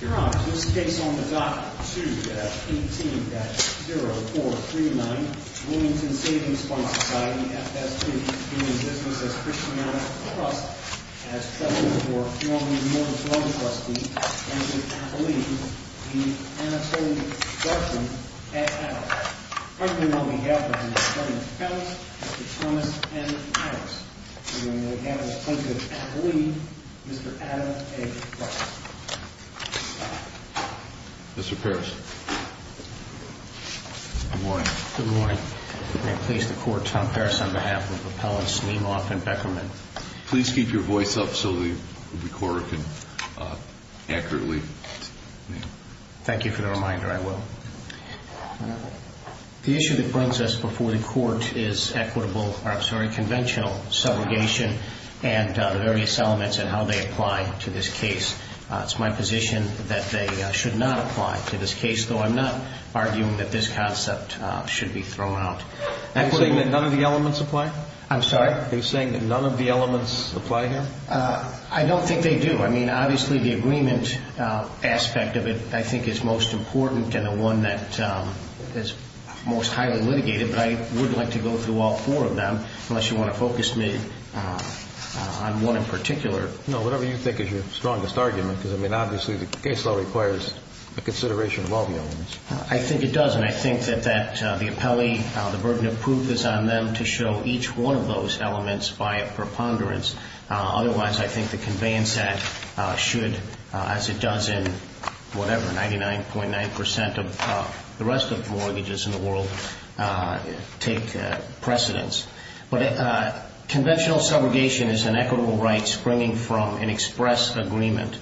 Your Honor, this case on the Dock 2-18-0439, Wilmington Savings Fund Society, F.S. 2, being in business as Christian Mountain Trust, as president for Norman Morgan's loan trustee, Mr. Attalee, the Anatoly Guzman at Attalee. Currently on behalf of Mr. Kevin Peltz, Mr. Thomas N. Adams, and the Anatoly Guzman at Attalee, Mr. Adam A. Peltz. Mr. Parris. Good morning. Good morning. May it please the Court, Tom Parris on behalf of Appellants Nemoff and Beckerman. Please keep your voice up so the recorder can accurately hear you. Thank you for the reminder. I will. The issue that brings us before the Court is equitable, I'm sorry, conventional subrogation and the various elements and how they apply to this case. It's my position that they should not apply to this case, though I'm not arguing that this concept should be thrown out. Are you saying that none of the elements apply? I'm sorry? Are you saying that none of the elements apply here? I don't think they do. I mean, obviously the agreement aspect of it I think is most important and the one that is most highly litigated, but I wouldn't like to go through all four of them unless you want to focus me on one in particular. No, whatever you think is your strongest argument, because, I mean, obviously the case law requires a consideration of all the elements. I think it does, and I think that the appellee, the burden of proof is on them to show each one of those elements by a preponderance. Otherwise, I think the conveyance act should, as it does in whatever, 99.9% of the rest of mortgages in the world take precedence. But conventional subrogation is an equitable right springing from an express agreement,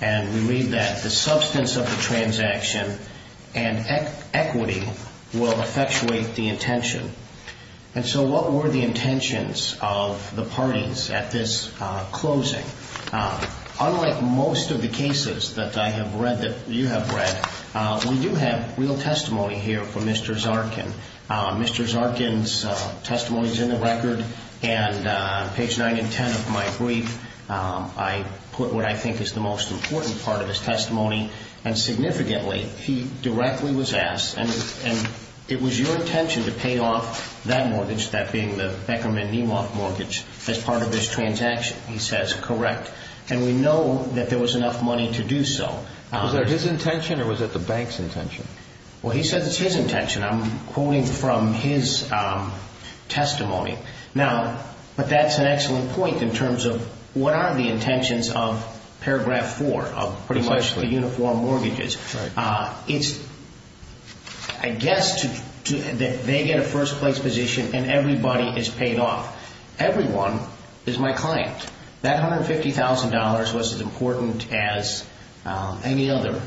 and we read that the substance of the transaction and equity will effectuate the intention. And so what were the intentions of the parties at this closing? Unlike most of the cases that I have read, that you have read, we do have real testimony here from Mr. Zarkin. Mr. Zarkin's testimony is in the record, and on page 9 and 10 of my brief, I put what I think is the most important part of his testimony, and significantly, he directly was asked, and it was your intention to pay off that mortgage, that being the Beckerman Nemoth mortgage, as part of this transaction. He says, correct, and we know that there was enough money to do so. Was that his intention, or was it the bank's intention? Well, he said it's his intention. I'm quoting from his testimony. Now, but that's an excellent point in terms of what are the intentions of paragraph 4 of pretty much the uniform mortgages. It's, I guess, that they get a first-place position and everybody is paid off. Everyone is my client. That $150,000 was as important as any other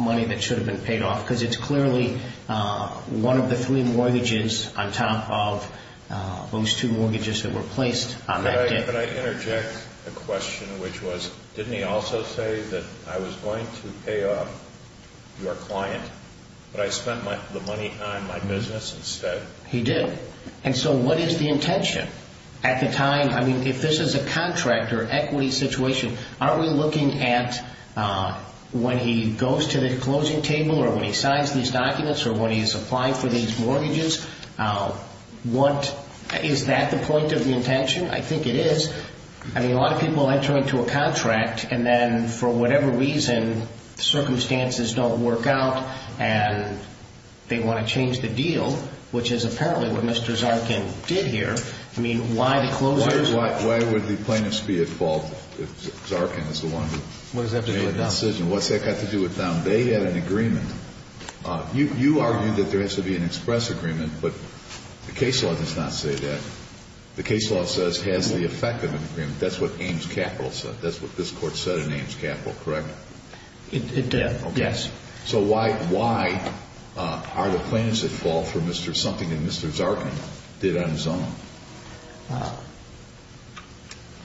money that should have been paid off because it's clearly one of the three mortgages on top of those two mortgages that were placed on that debt. But I interject a question, which was, didn't he also say that I was going to pay off your client, but I spent the money on my business instead? He did. And so what is the intention? At the time, I mean, if this is a contract or equity situation, aren't we looking at when he goes to the closing table or when he signs these documents or when he's applying for these mortgages, is that the point of the intention? I think it is. I mean, a lot of people enter into a contract and then for whatever reason, circumstances don't work out and they want to change the deal, which is apparently what Mr. Zarkin did here. I mean, why the closures? Why would the plaintiffs be at fault if Zarkin is the one who made the decision? What's that got to do with them? They had an agreement. You argued that there has to be an express agreement, but the case law does not say that. The case law says it has the effect of an agreement. That's what Ames Capital said. That's what this court said in Ames Capital, correct? It did, yes. So why are the plaintiffs at fault for something that Mr. Zarkin did on his own?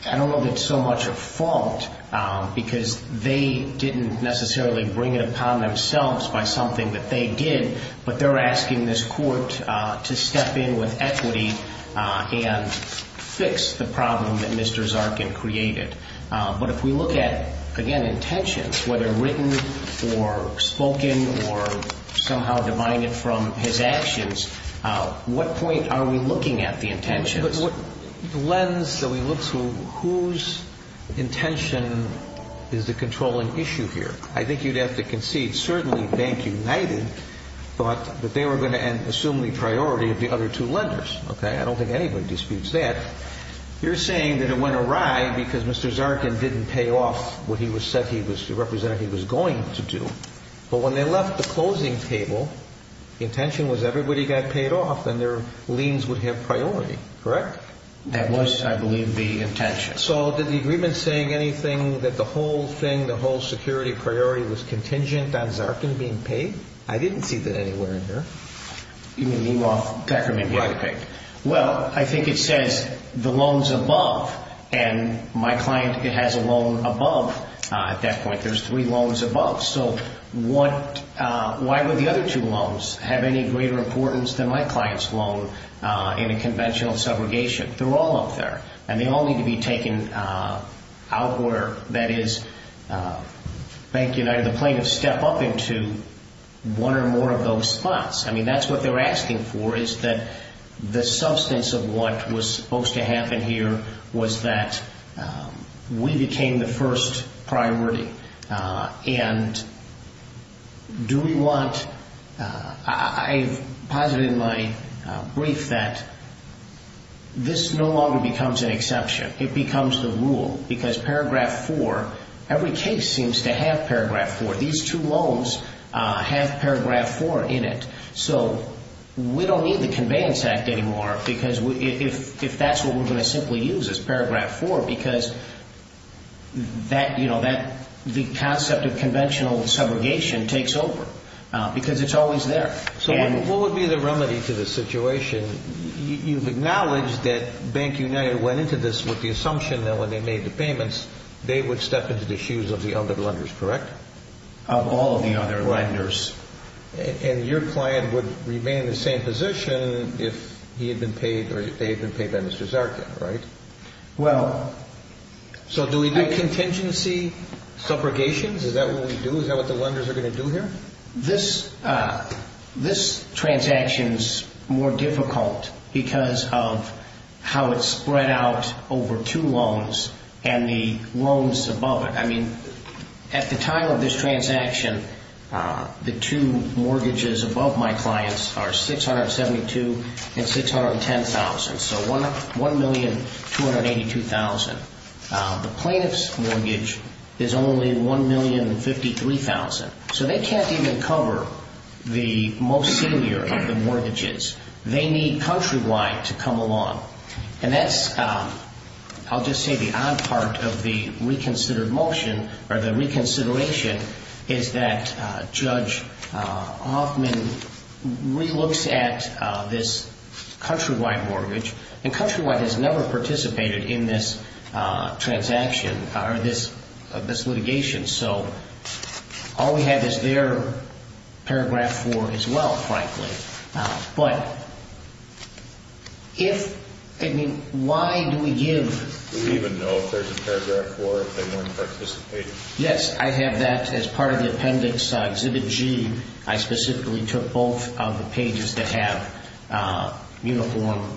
I don't know that it's so much a fault because they didn't necessarily bring it upon themselves by something that they did, but they're asking this court to step in with equity and fix the problem that Mr. Zarkin created. But if we look at, again, intentions, whether written or spoken or somehow divided from his actions, what point are we looking at the intentions? The lens that we look to, whose intention is the controlling issue here? I think you'd have to concede certainly Bank United thought that they were going to assume the priority of the other two lenders. I don't think anybody disputes that. You're saying that it went awry because Mr. Zarkin didn't pay off what he said he was going to do. But when they left the closing table, the intention was everybody got paid off and their liens would have priority, correct? That was, I believe, the intention. So did the agreement say anything that the whole thing, the whole security priority, was contingent on Zarkin being paid? I didn't see that anywhere in here. You mean Mirov-Beckerman getting paid? Well, I think it says the loans above, and my client has a loan above at that point. There's three loans above. So why would the other two loans have any greater importance than my client's loan in a conventional subrogation? They're all up there, and they all need to be taken out where, that is, Bank United and the plaintiffs step up into one or more of those spots. I mean that's what they're asking for is that the substance of what was supposed to happen here was that we became the first priority. And do we want, I've posited in my brief that this no longer becomes an exception. It becomes the rule because Paragraph 4, every case seems to have Paragraph 4. These two loans have Paragraph 4 in it. So we don't need the Conveyance Act anymore because if that's what we're going to simply use as Paragraph 4 because the concept of conventional subrogation takes over because it's always there. So what would be the remedy to this situation? You've acknowledged that Bank United went into this with the assumption that when they made the payments they would step into the shoes of the other lenders, correct? Of all of the other lenders. And your client would remain in the same position if they had been paid by Mr. Zarkin, right? Well... So do we do contingency subrogations? Is that what we do? Is that what the lenders are going to do here? This transaction is more difficult because of how it's spread out over two loans and the loans above it. At the time of this transaction, the two mortgages above my client's are $672,000 and $610,000. So $1,282,000. The plaintiff's mortgage is only $1,053,000. So they can't even cover the most senior of the mortgages. They need Countrywide to come along. And that's, I'll just say the odd part of the reconsidered motion, or the reconsideration, is that Judge Hoffman re-looks at this Countrywide mortgage. And Countrywide has never participated in this transaction, or this litigation. So all we have is their paragraph 4 as well, frankly. But if, I mean, why do we give... Do we even know if there's a paragraph 4 if they weren't participating? Yes, I have that as part of the appendix, Exhibit G. I specifically took both of the pages that have uniform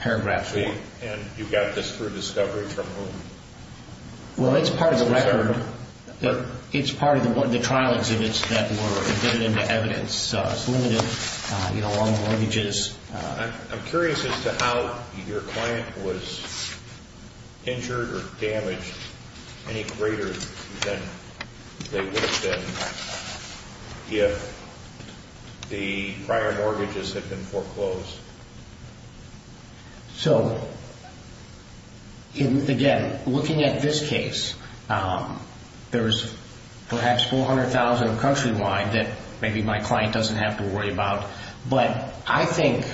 paragraphs 4. And you got this through discovery from whom? Well, it's part of the record. It's part of the trial exhibits that were embedded into evidence. It's limited, you know, on mortgages. I'm curious as to how your client was injured or damaged any greater than they would have been if the prior mortgages had been foreclosed. So, again, looking at this case, there's perhaps 400,000 of Countrywide that maybe my client doesn't have to worry about. But I think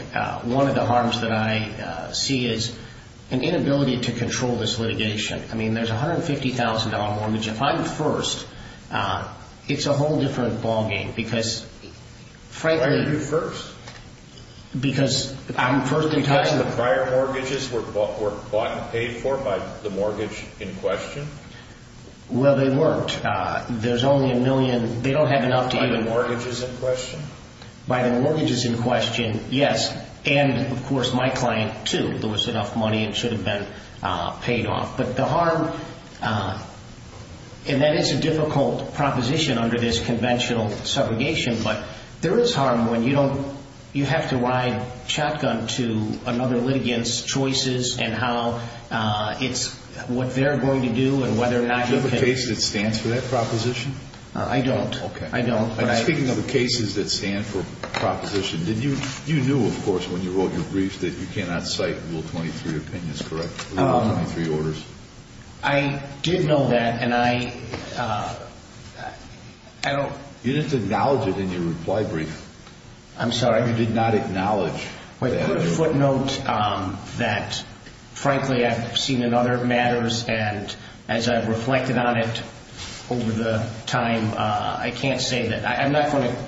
one of the harms that I see is an inability to control this litigation. I mean, there's $150,000 mortgage. If I'm first, it's a whole different ballgame because, frankly... Why are you first? Because I'm first in time... Because the prior mortgages were bought and paid for by the mortgage in question? Well, they weren't. There's only a million. They don't have enough to even... By the mortgages in question? By the mortgages in question, yes. And, of course, my client, too. There was enough money and it should have been paid off. But the harm, and that is a difficult proposition under this conventional subrogation, but there is harm when you don't... You have to ride shotgun to another litigant's choices and how it's what they're going to do and whether or not you can... Do you have a case that stands for that proposition? I don't. Okay. I don't. Speaking of the cases that stand for proposition, you knew, of course, when you wrote your brief, that you cannot cite Rule 23 opinions, correct? Rule 23 orders. I did know that, and I don't... You didn't acknowledge it in your reply brief. I'm sorry? You did not acknowledge that. I put a footnote that, frankly, I've seen in other matters, and as I've reflected on it over the time, I can't say that... I'm not going to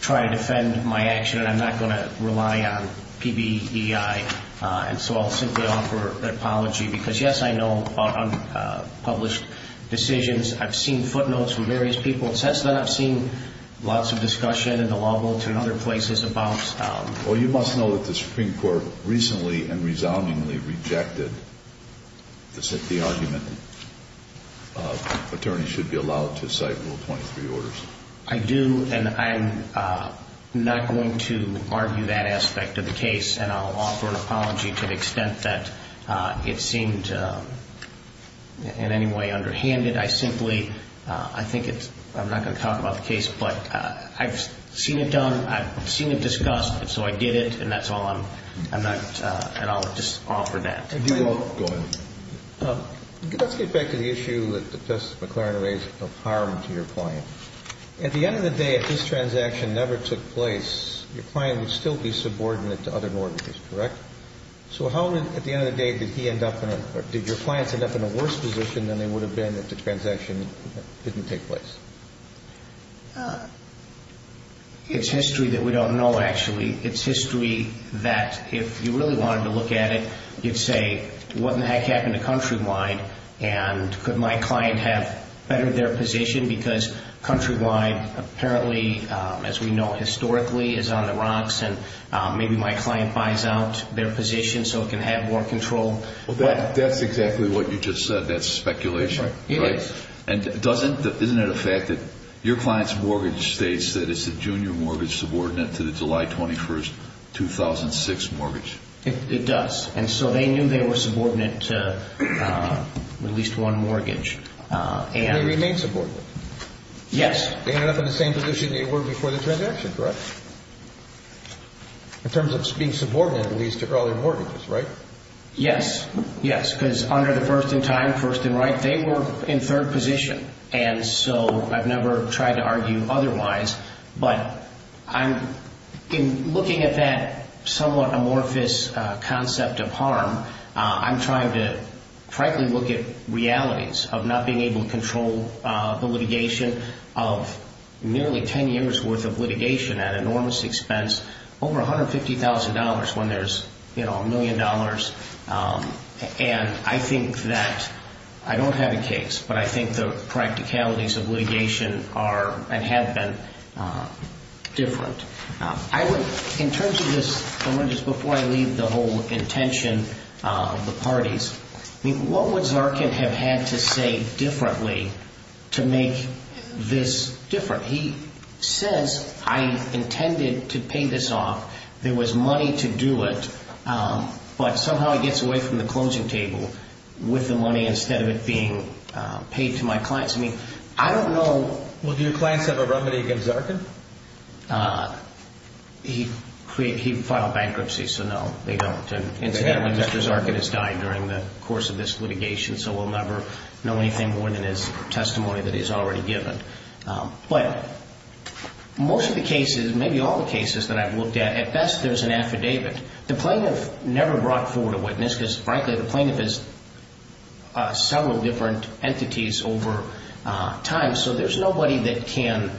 try to defend my action and I'm not going to rely on PBEI, and so I'll simply offer an apology because, yes, I know about unpublished decisions. I've seen footnotes from various people. Since then, I've seen lots of discussion in the law world and other places about... Well, you must know that the Supreme Court recently and resoundingly rejected the argument that attorneys should be allowed to cite Rule 23 orders. I do, and I'm not going to argue that aspect of the case, and I'll offer an apology to the extent that it seemed in any way underhanded. I simply... I think it's... I'm not going to talk about the case, but I've seen it done. I've seen it discussed, and so I did it, and that's all. I'm not... And I'll just offer that. Go ahead. Let's get back to the issue that Justice McClaren raised of harm to your client. At the end of the day, if this transaction never took place, your client would still be subordinate to other mortgages, correct? So how, at the end of the day, did he end up in a... than they would have been if the transaction didn't take place? It's history that we don't know, actually. It's history that if you really wanted to look at it, you'd say, what in the heck happened to Countrywide, and could my client have bettered their position because Countrywide apparently, as we know historically, is on the rocks, and maybe my client buys out their position so it can have more control. Well, that's exactly what you just said. That's speculation, right? It is. And doesn't... Isn't it a fact that your client's mortgage states that it's a junior mortgage subordinate to the July 21, 2006 mortgage? It does. And so they knew they were subordinate to at least one mortgage, and... And they remained subordinate. Yes. They ended up in the same position they were before the transaction, correct? In terms of being subordinate, at least, to earlier mortgages, right? Yes. Yes, because under the first in time, first in right, they were in third position. And so I've never tried to argue otherwise. But in looking at that somewhat amorphous concept of harm, I'm trying to frankly look at realities of not being able to control the litigation of nearly ten years' worth of litigation at enormous expense, over $150,000 when there's, you know, a million dollars. And I think that... I don't have a case, but I think the practicalities of litigation are and have been different. I would... In terms of this, before I leave the whole intention of the parties, what would Zarkin have had to say differently to make this different? He says, I intended to pay this off. There was money to do it. But somehow he gets away from the closing table with the money instead of it being paid to my clients. I mean, I don't know... Well, do your clients have a remedy against Zarkin? He filed bankruptcy, so no, they don't. Incidentally, Mr. Zarkin has died during the course of this litigation, so we'll never know anything more than his testimony that he's already given. But most of the cases, maybe all the cases that I've looked at, at best there's an affidavit. The plaintiff never brought forward a witness because, frankly, the plaintiff is several different entities over time, so there's nobody that can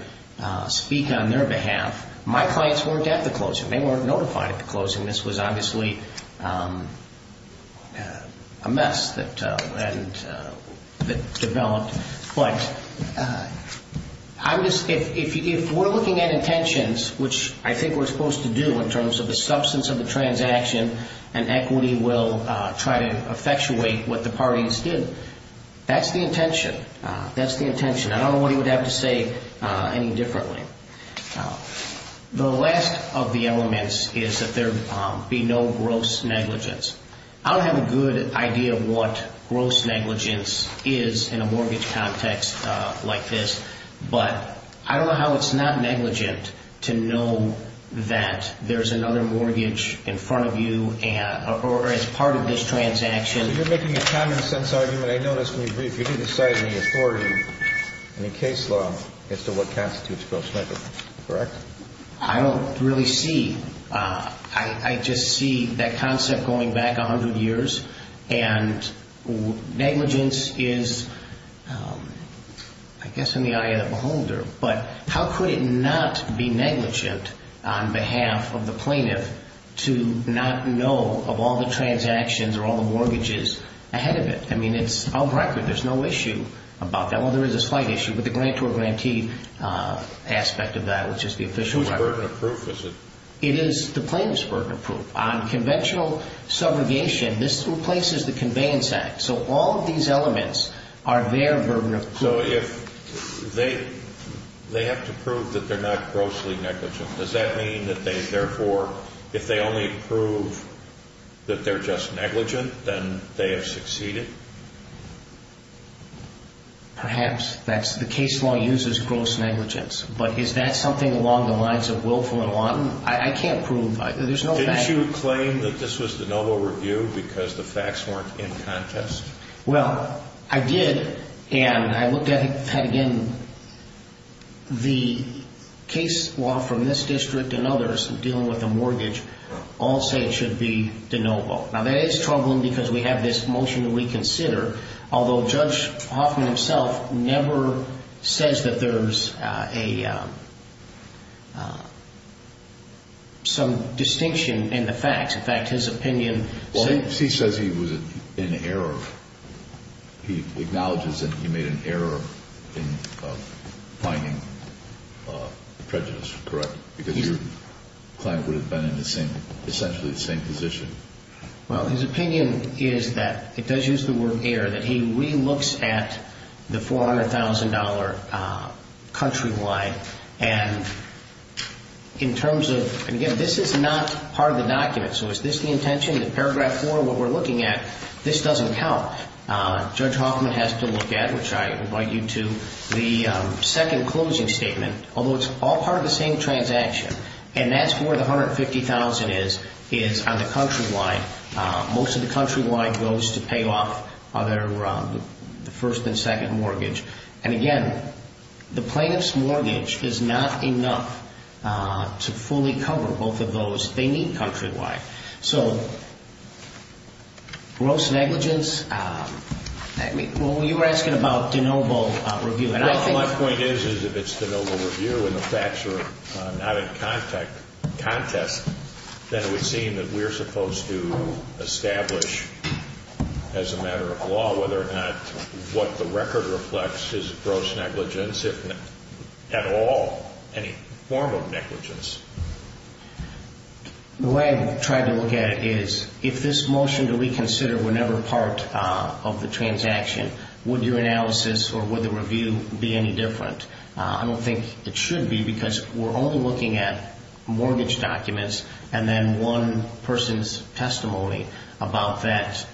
speak on their behalf. My clients weren't at the closing. They weren't notified at the closing. This was obviously a mess that developed. But if we're looking at intentions, which I think we're supposed to do in terms of the substance of the transaction and equity will try to effectuate what the parties did, that's the intention. That's the intention. I don't know what he would have to say any differently. The last of the elements is that there be no gross negligence. I don't have a good idea of what gross negligence is in a mortgage context like this, but I don't know how it's not negligent to know that there's another mortgage in front of you or as part of this transaction. You're making a common sense argument. I noticed when you briefed you didn't cite any authority, any case law, as to what constitutes gross negligence, correct? I don't really see. I just see that concept going back 100 years, and negligence is, I guess, in the eye of the beholder. But how could it not be negligent on behalf of the plaintiff to not know of all the transactions or all the mortgages ahead of it? I mean, it's out of record. There's no issue about that. Well, there is a slight issue with the grantor-grantee aspect of that, which is the official record. It's not burden of proof, is it? It is the plaintiff's burden of proof. On conventional subrogation, this replaces the Conveyance Act. So all of these elements are their burden of proof. So if they have to prove that they're not grossly negligent, does that mean that they therefore, if they only prove that they're just negligent, then they have succeeded? Perhaps. The case law uses gross negligence. But is that something along the lines of willful and wanton? I can't prove either. There's no fact. Didn't you claim that this was de novo review because the facts weren't in contest? Well, I did, and I looked at it again. The case law from this district and others dealing with the mortgage all say it should be de novo. Now, that is troubling because we have this motion to reconsider, although Judge Hoffman himself never says that there's some distinction in the facts. In fact, his opinion says he was in error. He acknowledges that he made an error in finding the prejudice, correct? Because your client would have been in essentially the same position. Well, his opinion is that, it does use the word error, that he re-looks at the $400,000 countrywide. And in terms of, again, this is not part of the document. So is this the intention? In Paragraph 4, what we're looking at, this doesn't count. Judge Hoffman has to look at, which I invite you to, the second closing statement, although it's all part of the same transaction, and that's where the $150,000 is, is on the countrywide. Most of the countrywide goes to pay off the first and second mortgage. And again, the plaintiff's mortgage is not enough to fully cover both of those. They need countrywide. So gross negligence, well, you were asking about de novo review. My point is, if it's de novo review and the facts are not in context, then it would seem that we're supposed to establish, as a matter of law, whether or not what the record reflects is gross negligence, if at all any form of negligence. The way I try to look at it is, if this motion to reconsider were never part of the transaction, would your analysis or would the review be any different? I don't think it should be because we're only looking at mortgage documents and then one person's testimony about that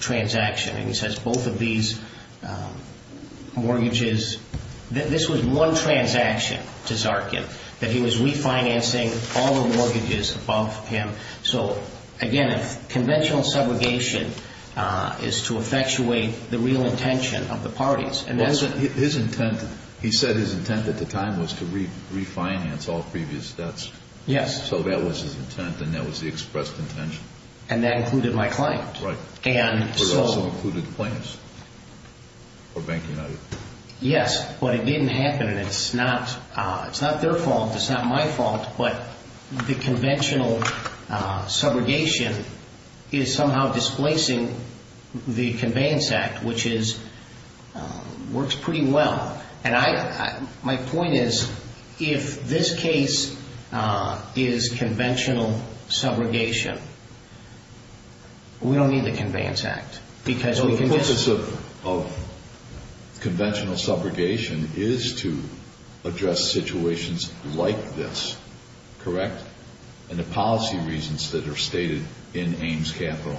transaction. And he says both of these mortgages, this was one transaction to Zarkin, that he was refinancing all the mortgages above him. So again, conventional segregation is to effectuate the real intention of the parties. He said his intent at the time was to refinance all previous debts. Yes. So that was his intent and that was the expressed intention. And that included my client. Right, but it also included plaintiffs or Bank United. Yes, but it didn't happen and it's not their fault, it's not my fault, but the conventional subrogation is somehow displacing the Conveyance Act, which works pretty well. And my point is, if this case is conventional subrogation, we don't need the Conveyance Act. So the purpose of conventional subrogation is to address situations like this, correct? And the policy reasons that are stated in Ames Capital,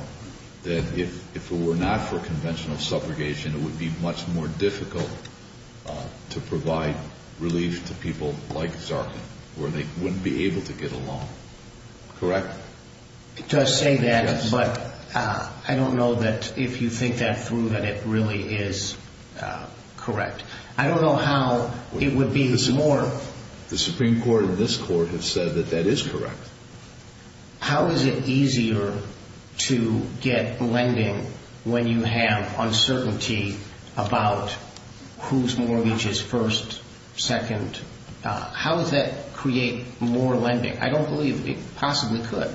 that if it were not for conventional subrogation, it would be much more difficult to provide relief to people like Zarkin, where they wouldn't be able to get a loan, correct? It does say that, but I don't know that if you think that through that it really is correct. I don't know how it would be more... The Supreme Court and this Court have said that that is correct. How is it easier to get lending when you have uncertainty about whose mortgage is first, second? How does that create more lending? I don't believe it possibly could.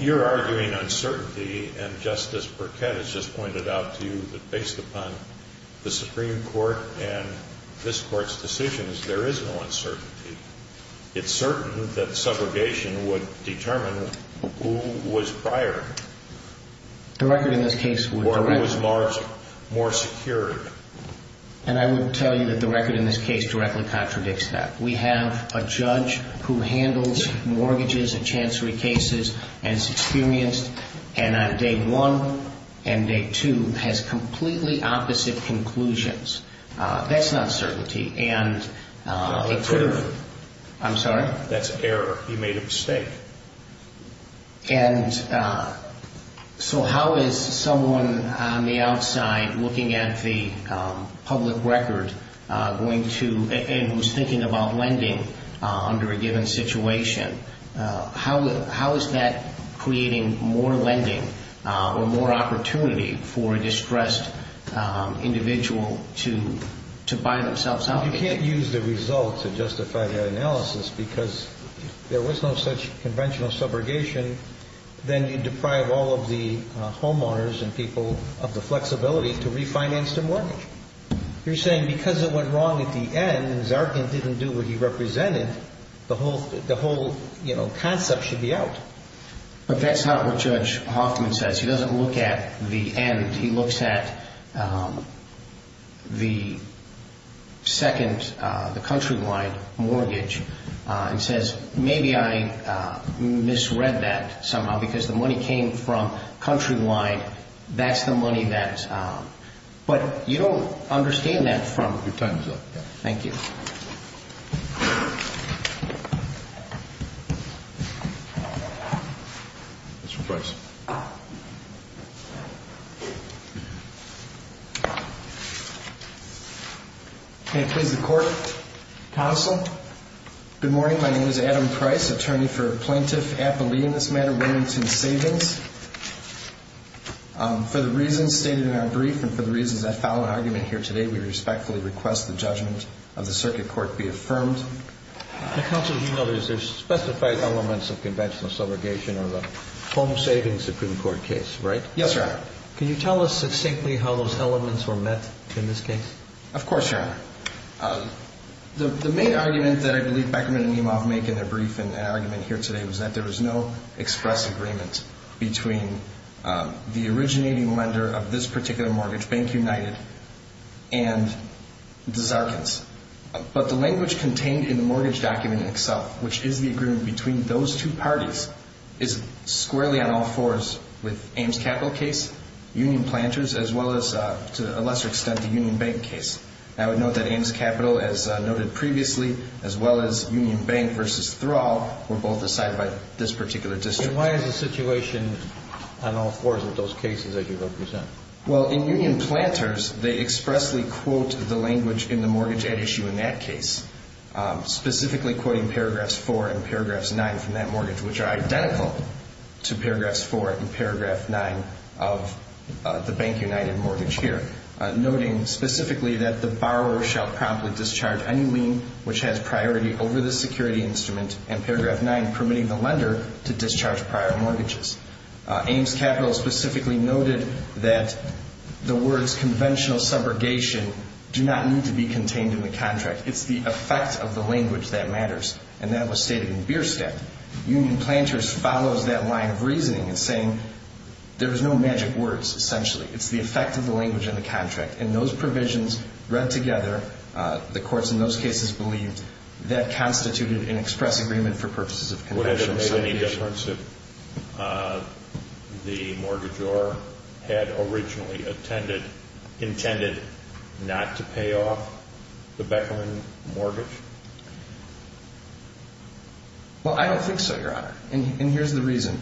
You're arguing uncertainty, and Justice Burkett has just pointed out to you that based upon the Supreme Court and this Court's decisions, there is no uncertainty. It's certain that subrogation would determine who was prior. The record in this case would... Or who was more secured. And I would tell you that the record in this case directly contradicts that. We have a judge who handles mortgages and chancery cases and is experienced, and on day one and day two has completely opposite conclusions. That's uncertainty, and it could have... That's error. I'm sorry? That's error. You made a mistake. And so how is someone on the outside looking at the public record going to... and who's thinking about lending under a given situation, how is that creating more lending or more opportunity for a distressed individual to buy themselves out? Well, you can't use the results to justify that analysis because there was no such conventional subrogation than you deprive all of the homeowners and people of the flexibility to refinance their mortgage. You're saying because it went wrong at the end and Zarkin didn't do what he represented, the whole concept should be out. But that's not what Judge Hoffman says. He doesn't look at the end. He looks at the second, the country-wide mortgage and says, maybe I misread that somehow because the money came from country-wide. That's the money that... But you don't understand that from... Your time is up. Thank you. Mr. Price. May it please the Court, Counsel. Good morning. My name is Adam Price, attorney for Plaintiff Appellee in this matter, Wilmington Savings. For the reasons stated in our brief and for the reasons I follow in argument here today, we respectfully request the judgment of the Circuit Court be affirmed. Counsel, you know there's specified elements of conventional subrogation or the home savings Supreme Court case, right? Yes, Your Honor. Can you tell us succinctly how those elements were met in this case? Of course, Your Honor. The main argument that I believe Beckerman and Nemov make in their brief and argument here today was that there was no express agreement between the originating lender of this particular mortgage, Bank United, and the Zarkins. But the language contained in the mortgage document itself, which is the agreement between those two parties, is squarely on all fours with Ames Capital case, Union Planters, as well as to a lesser extent the Union Bank case. I would note that Ames Capital, as noted previously, as well as Union Bank versus Thrall were both decided by this particular district. And why is the situation on all fours of those cases that you represent? Well, in Union Planters, they expressly quote the language in the mortgage at issue in that case, specifically quoting paragraphs 4 and paragraphs 9 from that mortgage, which are identical to paragraphs 4 and paragraph 9 of the Bank United mortgage here, noting specifically that the borrower shall promptly discharge any lien which has priority over the security instrument, and paragraph 9 permitting the lender to discharge prior mortgages. Ames Capital specifically noted that the words conventional subrogation do not need to be contained in the contract. It's the effect of the language that matters, and that was stated in Bierstadt. Union Planters follows that line of reasoning in saying there is no magic words, essentially. It's the effect of the language in the contract. And those provisions read together, the courts in those cases believed, that constituted an express agreement for purposes of conventional subrogation. Would it have made any difference if the mortgagor had originally intended not to pay off the Bechelin mortgage? Well, I don't think so, Your Honor, and here's the reason.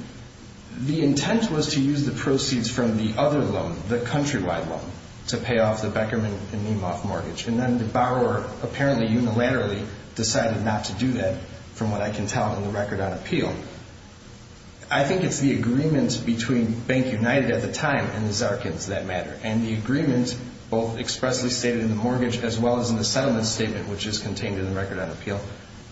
The intent was to use the proceeds from the other loan, the countrywide loan, to pay off the Beckerman and Niemoff mortgage, and then the borrower apparently unilaterally decided not to do that, from what I can tell in the record on appeal. I think it's the agreement between Bank United at the time and the Zarkins that matter, and the agreement both expressly stated in the mortgage as well as in the settlement statement, which is contained in the record on appeal,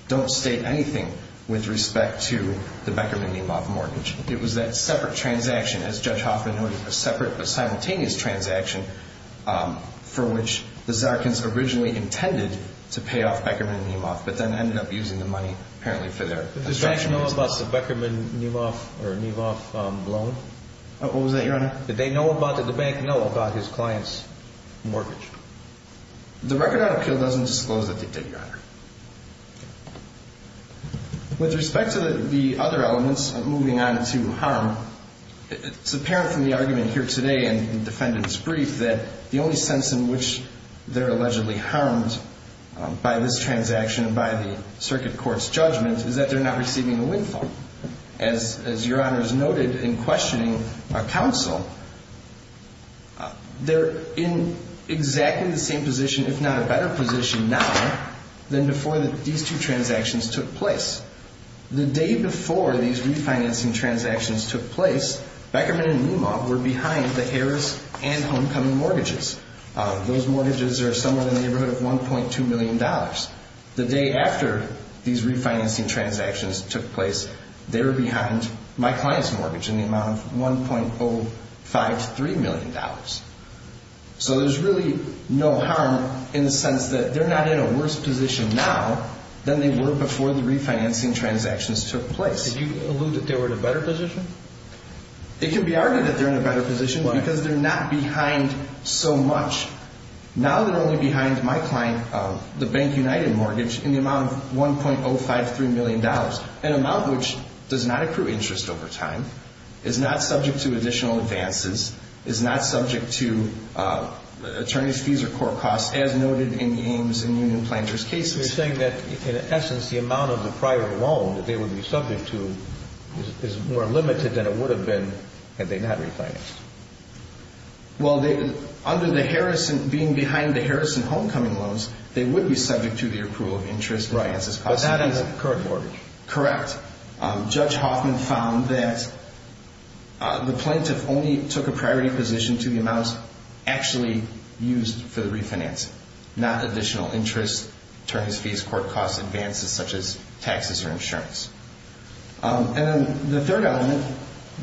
don't state anything with respect to the Beckerman and Niemoff mortgage. It was that separate transaction, as Judge Hoffman noted, a separate but simultaneous transaction for which the Zarkins originally intended to pay off Beckerman and Niemoff, but then ended up using the money apparently for their construction business. Did the bank know about the Beckerman and Niemoff loan? What was that, Your Honor? Did the bank know about his client's mortgage? The record on appeal doesn't disclose that they did, Your Honor. With respect to the other elements of moving on to harm, it's apparent from the argument here today in the defendant's brief that the only sense in which they're allegedly harmed by this transaction and by the circuit court's judgment is that they're not receiving a windfall. As Your Honor has noted in questioning counsel, they're in exactly the same position if not a better position now than before these two transactions took place. The day before these refinancing transactions took place, Beckerman and Niemoff were behind the Harris and homecoming mortgages. Those mortgages are somewhere in the neighborhood of $1.2 million. The day after these refinancing transactions took place, they were behind my client's mortgage in the amount of $1.05 to $3 million. So there's really no harm in the sense that they're not in a worse position now than they were before the refinancing transactions took place. Did you allude that they were in a better position? It can be argued that they're in a better position because they're not behind so much. Now they're only behind my client, the Bank United mortgage, in the amount of $1.05 to $3 million, an amount which does not accrue interest over time, is not subject to additional advances, is not subject to attorney's fees or court costs as noted in the Ames and Union Plaintiff's cases. You're saying that in essence the amount of the private loan that they would be subject to is more limited than it would have been had they not refinanced. Well, under the Harrison, being behind the Harrison homecoming loans, they would be subject to the approval of interest. Right, but that is a current mortgage. Correct. Judge Hoffman found that the plaintiff only took a priority position to the amounts actually used for the refinancing, not additional interest, attorney's fees, court costs, advances such as taxes or insurance. And then the third element,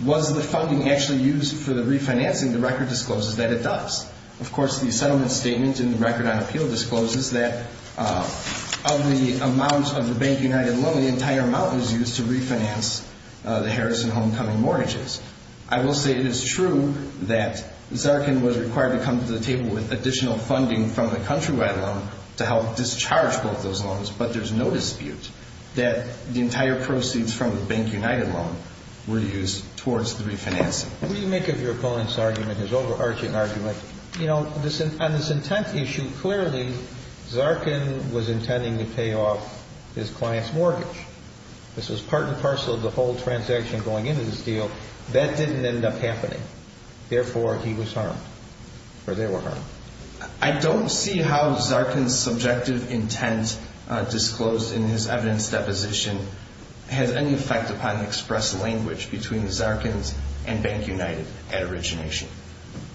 was the funding actually used for the refinancing? The record discloses that it does. Of course, the settlement statement in the record on appeal discloses that of the amount of the Bank United loan, the entire amount was used to refinance the Harrison homecoming mortgages. I will say it is true that Zarkin was required to come to the table with additional funding from the countrywide loan to help discharge both those loans, but there's no dispute that the entire proceeds from the Bank United loan were used towards the refinancing. What do you make of your opponent's argument, his overarching argument? You know, on this intent issue, clearly, Zarkin was intending to pay off his client's mortgage. This was part and parcel of the whole transaction going into this deal. That didn't end up happening. Therefore, he was harmed, or they were harmed. I don't see how Zarkin's subjective intent disclosed in his evidence deposition has any effect upon the express language between Zarkin and Bank United at origination.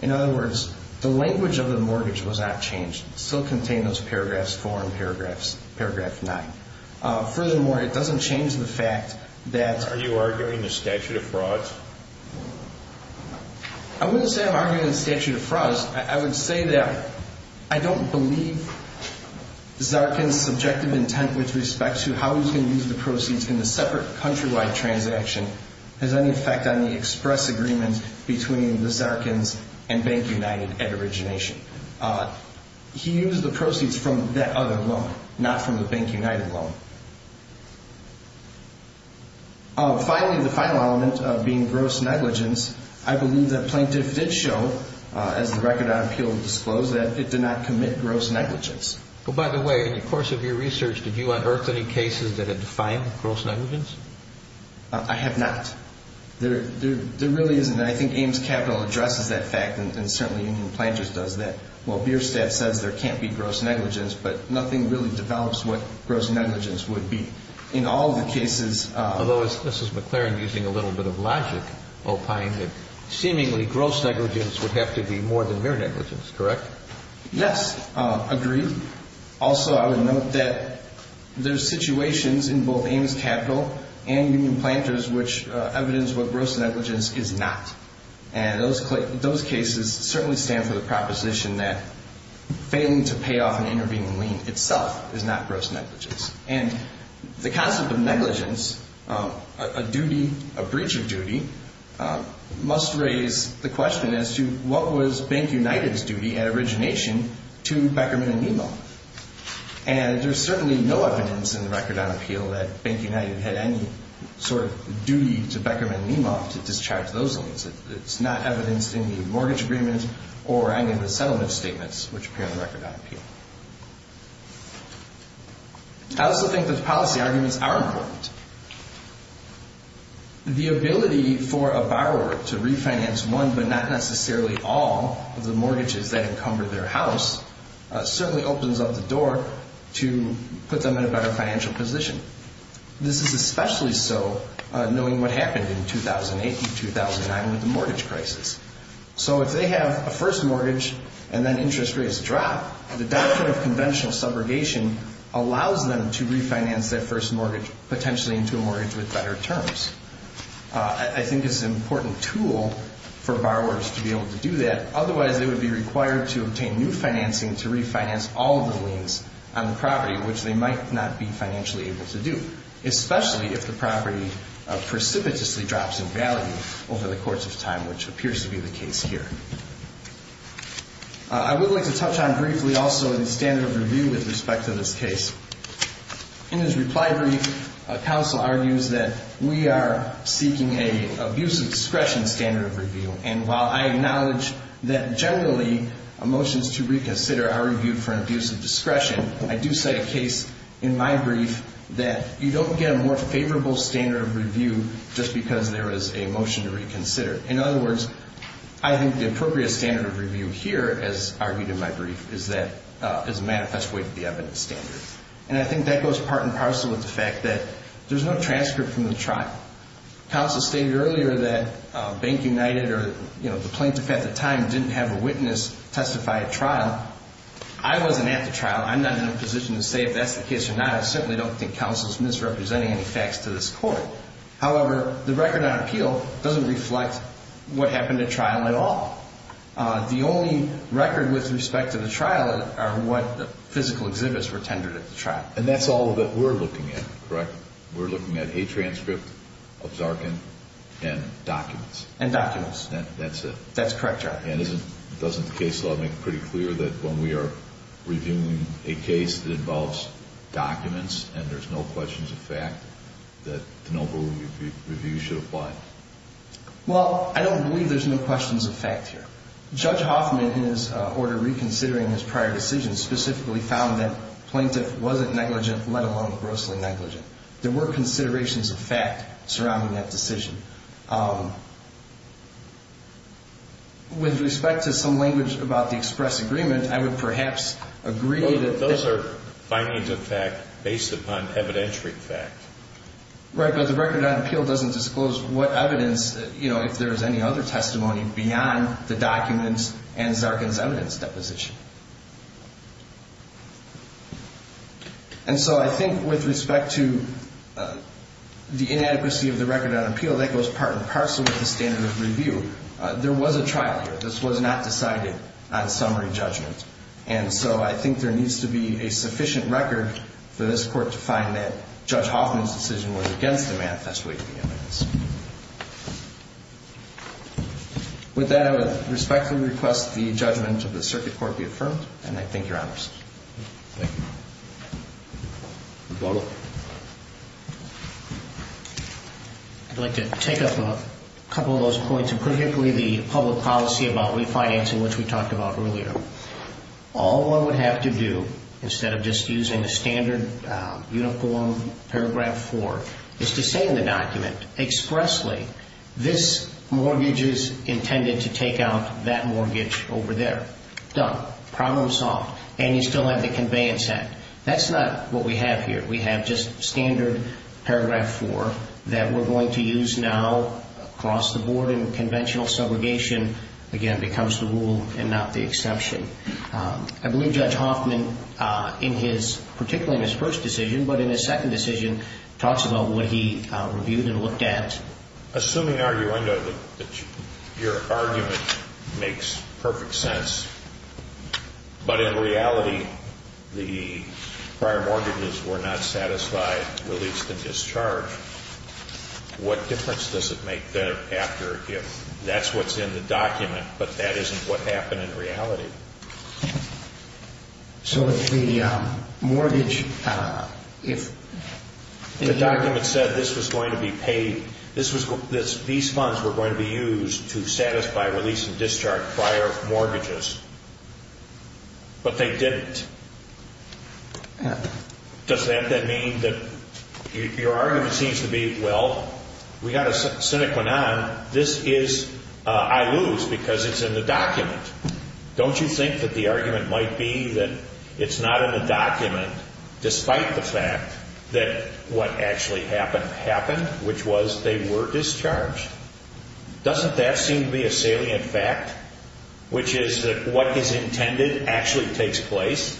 In other words, the language of the mortgage was not changed. It still contained those paragraphs, foreign paragraphs, paragraph 9. Furthermore, it doesn't change the fact that... Are you arguing the statute of frauds? I wouldn't say I'm arguing the statute of frauds. I would say that I don't believe Zarkin's subjective intent with respect to how he was going to use the proceeds in the separate countrywide transaction has any effect on the express agreement between the Zarkins and Bank United at origination. He used the proceeds from that other loan, not from the Bank United loan. Finally, the final element of being gross negligence, I believe that Plaintiff did show, as the record on appeal disclosed, that it did not commit gross negligence. By the way, in the course of your research, did you unearth any cases that have defined gross negligence? I have not. There really isn't. I think Ames Capital addresses that fact, and certainly Union Plaintiffs does that. While Bierstadt says there can't be gross negligence, but nothing really develops what gross negligence would be. In all the cases, although this is McLaren using a little bit of logic, seemingly gross negligence would have to be more than mere negligence, correct? Yes, agreed. Also, I would note that there are situations in both Ames Capital and Union Plaintiffs which evidence what gross negligence is not. Those cases certainly stand for the proposition that failing to pay off an intervening lien itself is not gross negligence. The concept of negligence, a duty, a breach of duty, must raise the question as to what was Bank United's duty at origination to Beckerman & Nemo. There's certainly no evidence in the record on appeal that Bank United had any sort of duty to Beckerman & Nemo to discharge those liens. It's not evidenced in the mortgage agreement or any of the settlement statements which appear in the record on appeal. I also think those policy arguments are important. The ability for a borrower to refinance one but not necessarily all of the mortgages that encumber their house certainly opens up the door to put them in a better financial position. This is especially so knowing what happened in 2008 and 2009 with the mortgage crisis. So if they have a first mortgage and then interest rates drop, the doctrine of conventional subrogation allows them to refinance their first mortgage potentially into a mortgage with better terms. I think it's an important tool for borrowers to be able to do that. Otherwise, they would be required to obtain new financing to refinance all of the liens on the property, which they might not be financially able to do, especially if the property precipitously drops in value over the course of time, which appears to be the case here. I would like to touch on briefly also the standard of review with respect to this case. In his reply brief, counsel argues that we are seeking an abuse of discretion standard of review. And while I acknowledge that generally, motions to reconsider are reviewed for an abuse of discretion, I do say a case in my brief that you don't get a more favorable standard of review just because there is a motion to reconsider. In other words, I think the appropriate standard of review here, as argued in my brief, is a manifest way to the evidence standard. And I think that goes part and parcel with the fact that there's no transcript from the trial. Counsel stated earlier that Bank United or the plaintiff at the time didn't have a witness testify at trial. I wasn't at the trial. I'm not in a position to say if that's the case or not. I certainly don't think counsel is misrepresenting any facts to this court. However, the record on appeal doesn't reflect what happened at trial at all. The only record with respect to the trial are what physical exhibits were tendered at the trial. And that's all that we're looking at, correct? We're looking at a transcript of Zarkin and documents. That's it. That's correct, Your Honor. And doesn't the case law make it pretty clear that when we are reviewing a case that involves documents and there's no questions of fact that the noble review should apply? Well, I don't believe there's no questions of fact here. Judge Hoffman, in his order reconsidering his prior decision, specifically found that the plaintiff wasn't negligent, let alone grossly negligent. There were considerations of fact surrounding that decision. With respect to some language about the express agreement, I would perhaps agree that Those are findings of fact based upon evidentiary fact. Right. But the record on appeal doesn't disclose what evidence, you know, if there's any other testimony beyond the documents and Zarkin's evidence deposition. And so I think with respect to the inadequacy of the record on appeal, even though that goes part and parcel with the standard of review, there was a trial here. This was not decided on summary judgment. And so I think there needs to be a sufficient record for this court to find that Judge Hoffman's decision was against the manifest way of the evidence. With that, I would respectfully request the judgment of the circuit court be affirmed, and I thank Your Honors. Thank you. Mr. Butler? I'd like to take up a couple of those points, and particularly the public policy about refinancing, which we talked about earlier. All one would have to do, instead of just using the standard uniform paragraph 4, is to say in the document expressly, this mortgage is intended to take out that mortgage over there. Done. Problem solved. And you still have the conveyance act. That's not what we have here. We have just standard paragraph 4 that we're going to use now across the board in conventional segregation. Again, it becomes the rule and not the exception. I believe Judge Hoffman, particularly in his first decision, but in his second decision, talks about what he reviewed and looked at. Assuming, arguendo, that your argument makes perfect sense, but in reality, the prior mortgages were not satisfied, released and discharged, what difference does it make thereafter if that's what's in the document, but that isn't what happened in reality? So if the mortgage, if... The document said this was going to be paid, these funds were going to be used to satisfy release and discharge prior mortgages, but they didn't, does that then mean that your argument seems to be, well, we've got a sine qua non, this is, I lose because it's in the document. Don't you think that the argument might be that it's not in the document, despite the fact that what actually happened happened, which was they were discharged? Doesn't that seem to be a salient fact, which is that what is intended actually takes place?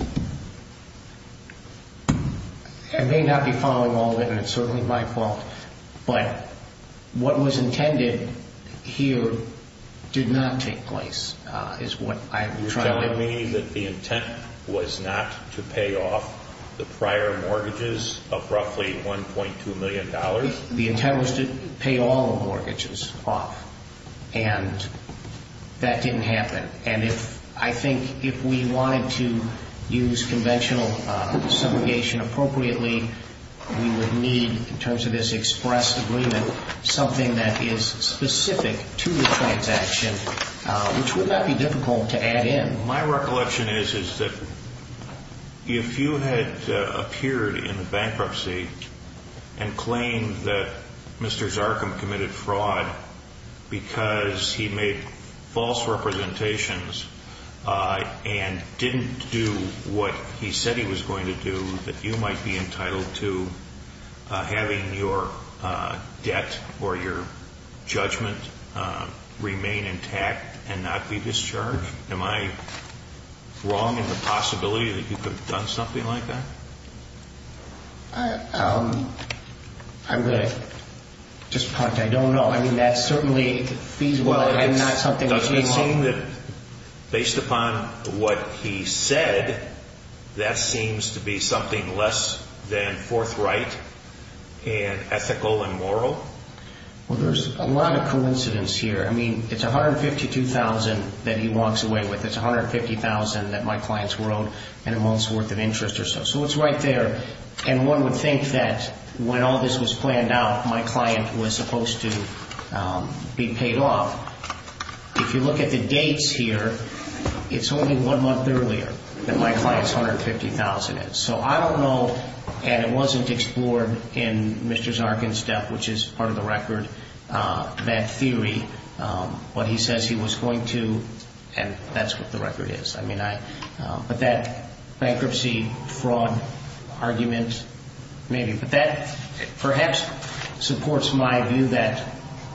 I may not be following all of it, and it's certainly my fault, but what was intended here did not take place, is what I'm trying to... You're telling me that the intent was not to pay off the prior mortgages of roughly $1.2 million? The intent was to pay all the mortgages off, and that didn't happen. And I think if we wanted to use conventional subrogation appropriately, we would need, in terms of this express agreement, something that is specific to the transaction, which would not be difficult to add in. My recollection is that if you had appeared in the bankruptcy and claimed that Mr. Zarkum committed fraud because he made false representations and didn't do what he said he was going to do, that you might be entitled to having your debt or your judgment remain intact and not be discharged? Am I wrong in the possibility that you could have done something like that? I'm going to just punt. I don't know. I mean, that certainly fees well and not something that... Does it seem that, based upon what he said, that seems to be something less than forthright and ethical and moral? Well, there's a lot of coincidence here. I mean, it's $152,000 that he walks away with. It's $150,000 that my clients were owed in a month's worth of interest or so. So it's right there. And one would think that when all this was planned out, my client was supposed to be paid off. If you look at the dates here, it's only one month earlier that my client's $150,000 is. So I don't know, and it wasn't explored in Mr. Zarkum's debt, which is part of the record, that theory, what he says he was going to, and that's what the record is. But that bankruptcy fraud argument, maybe. But that perhaps supports my view that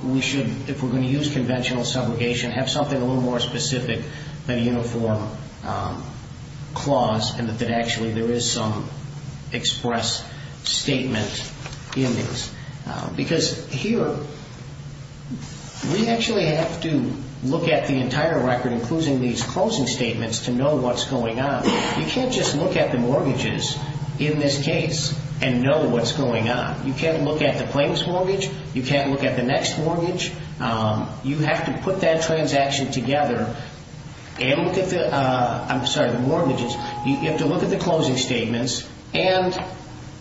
we should, if we're going to use conventional subrogation, have something a little more specific than a uniform clause and that actually there is some express statement in these. Because here, we actually have to look at the entire record, including these closing statements, to know what's going on. You can't just look at the mortgages in this case and know what's going on. You can't look at the plaintiff's mortgage. You can't look at the next mortgage. You have to put that transaction together and look at the mortgages. You have to look at the closing statements, and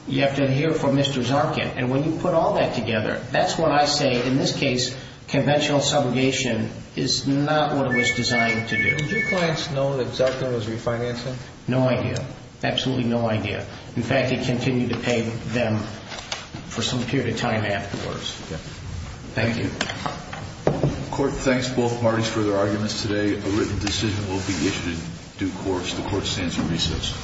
you have to hear from Mr. Zarkum. And when you put all that together, that's what I say. In this case, conventional subrogation is not what it was designed to do. Did your clients know that Zarkum was refinancing? No idea. Absolutely no idea. In fact, they continued to pay them for some period of time afterwards. Thank you. Court, thanks both parties for their arguments today. A written decision will be issued in due course. The Court stands in recess.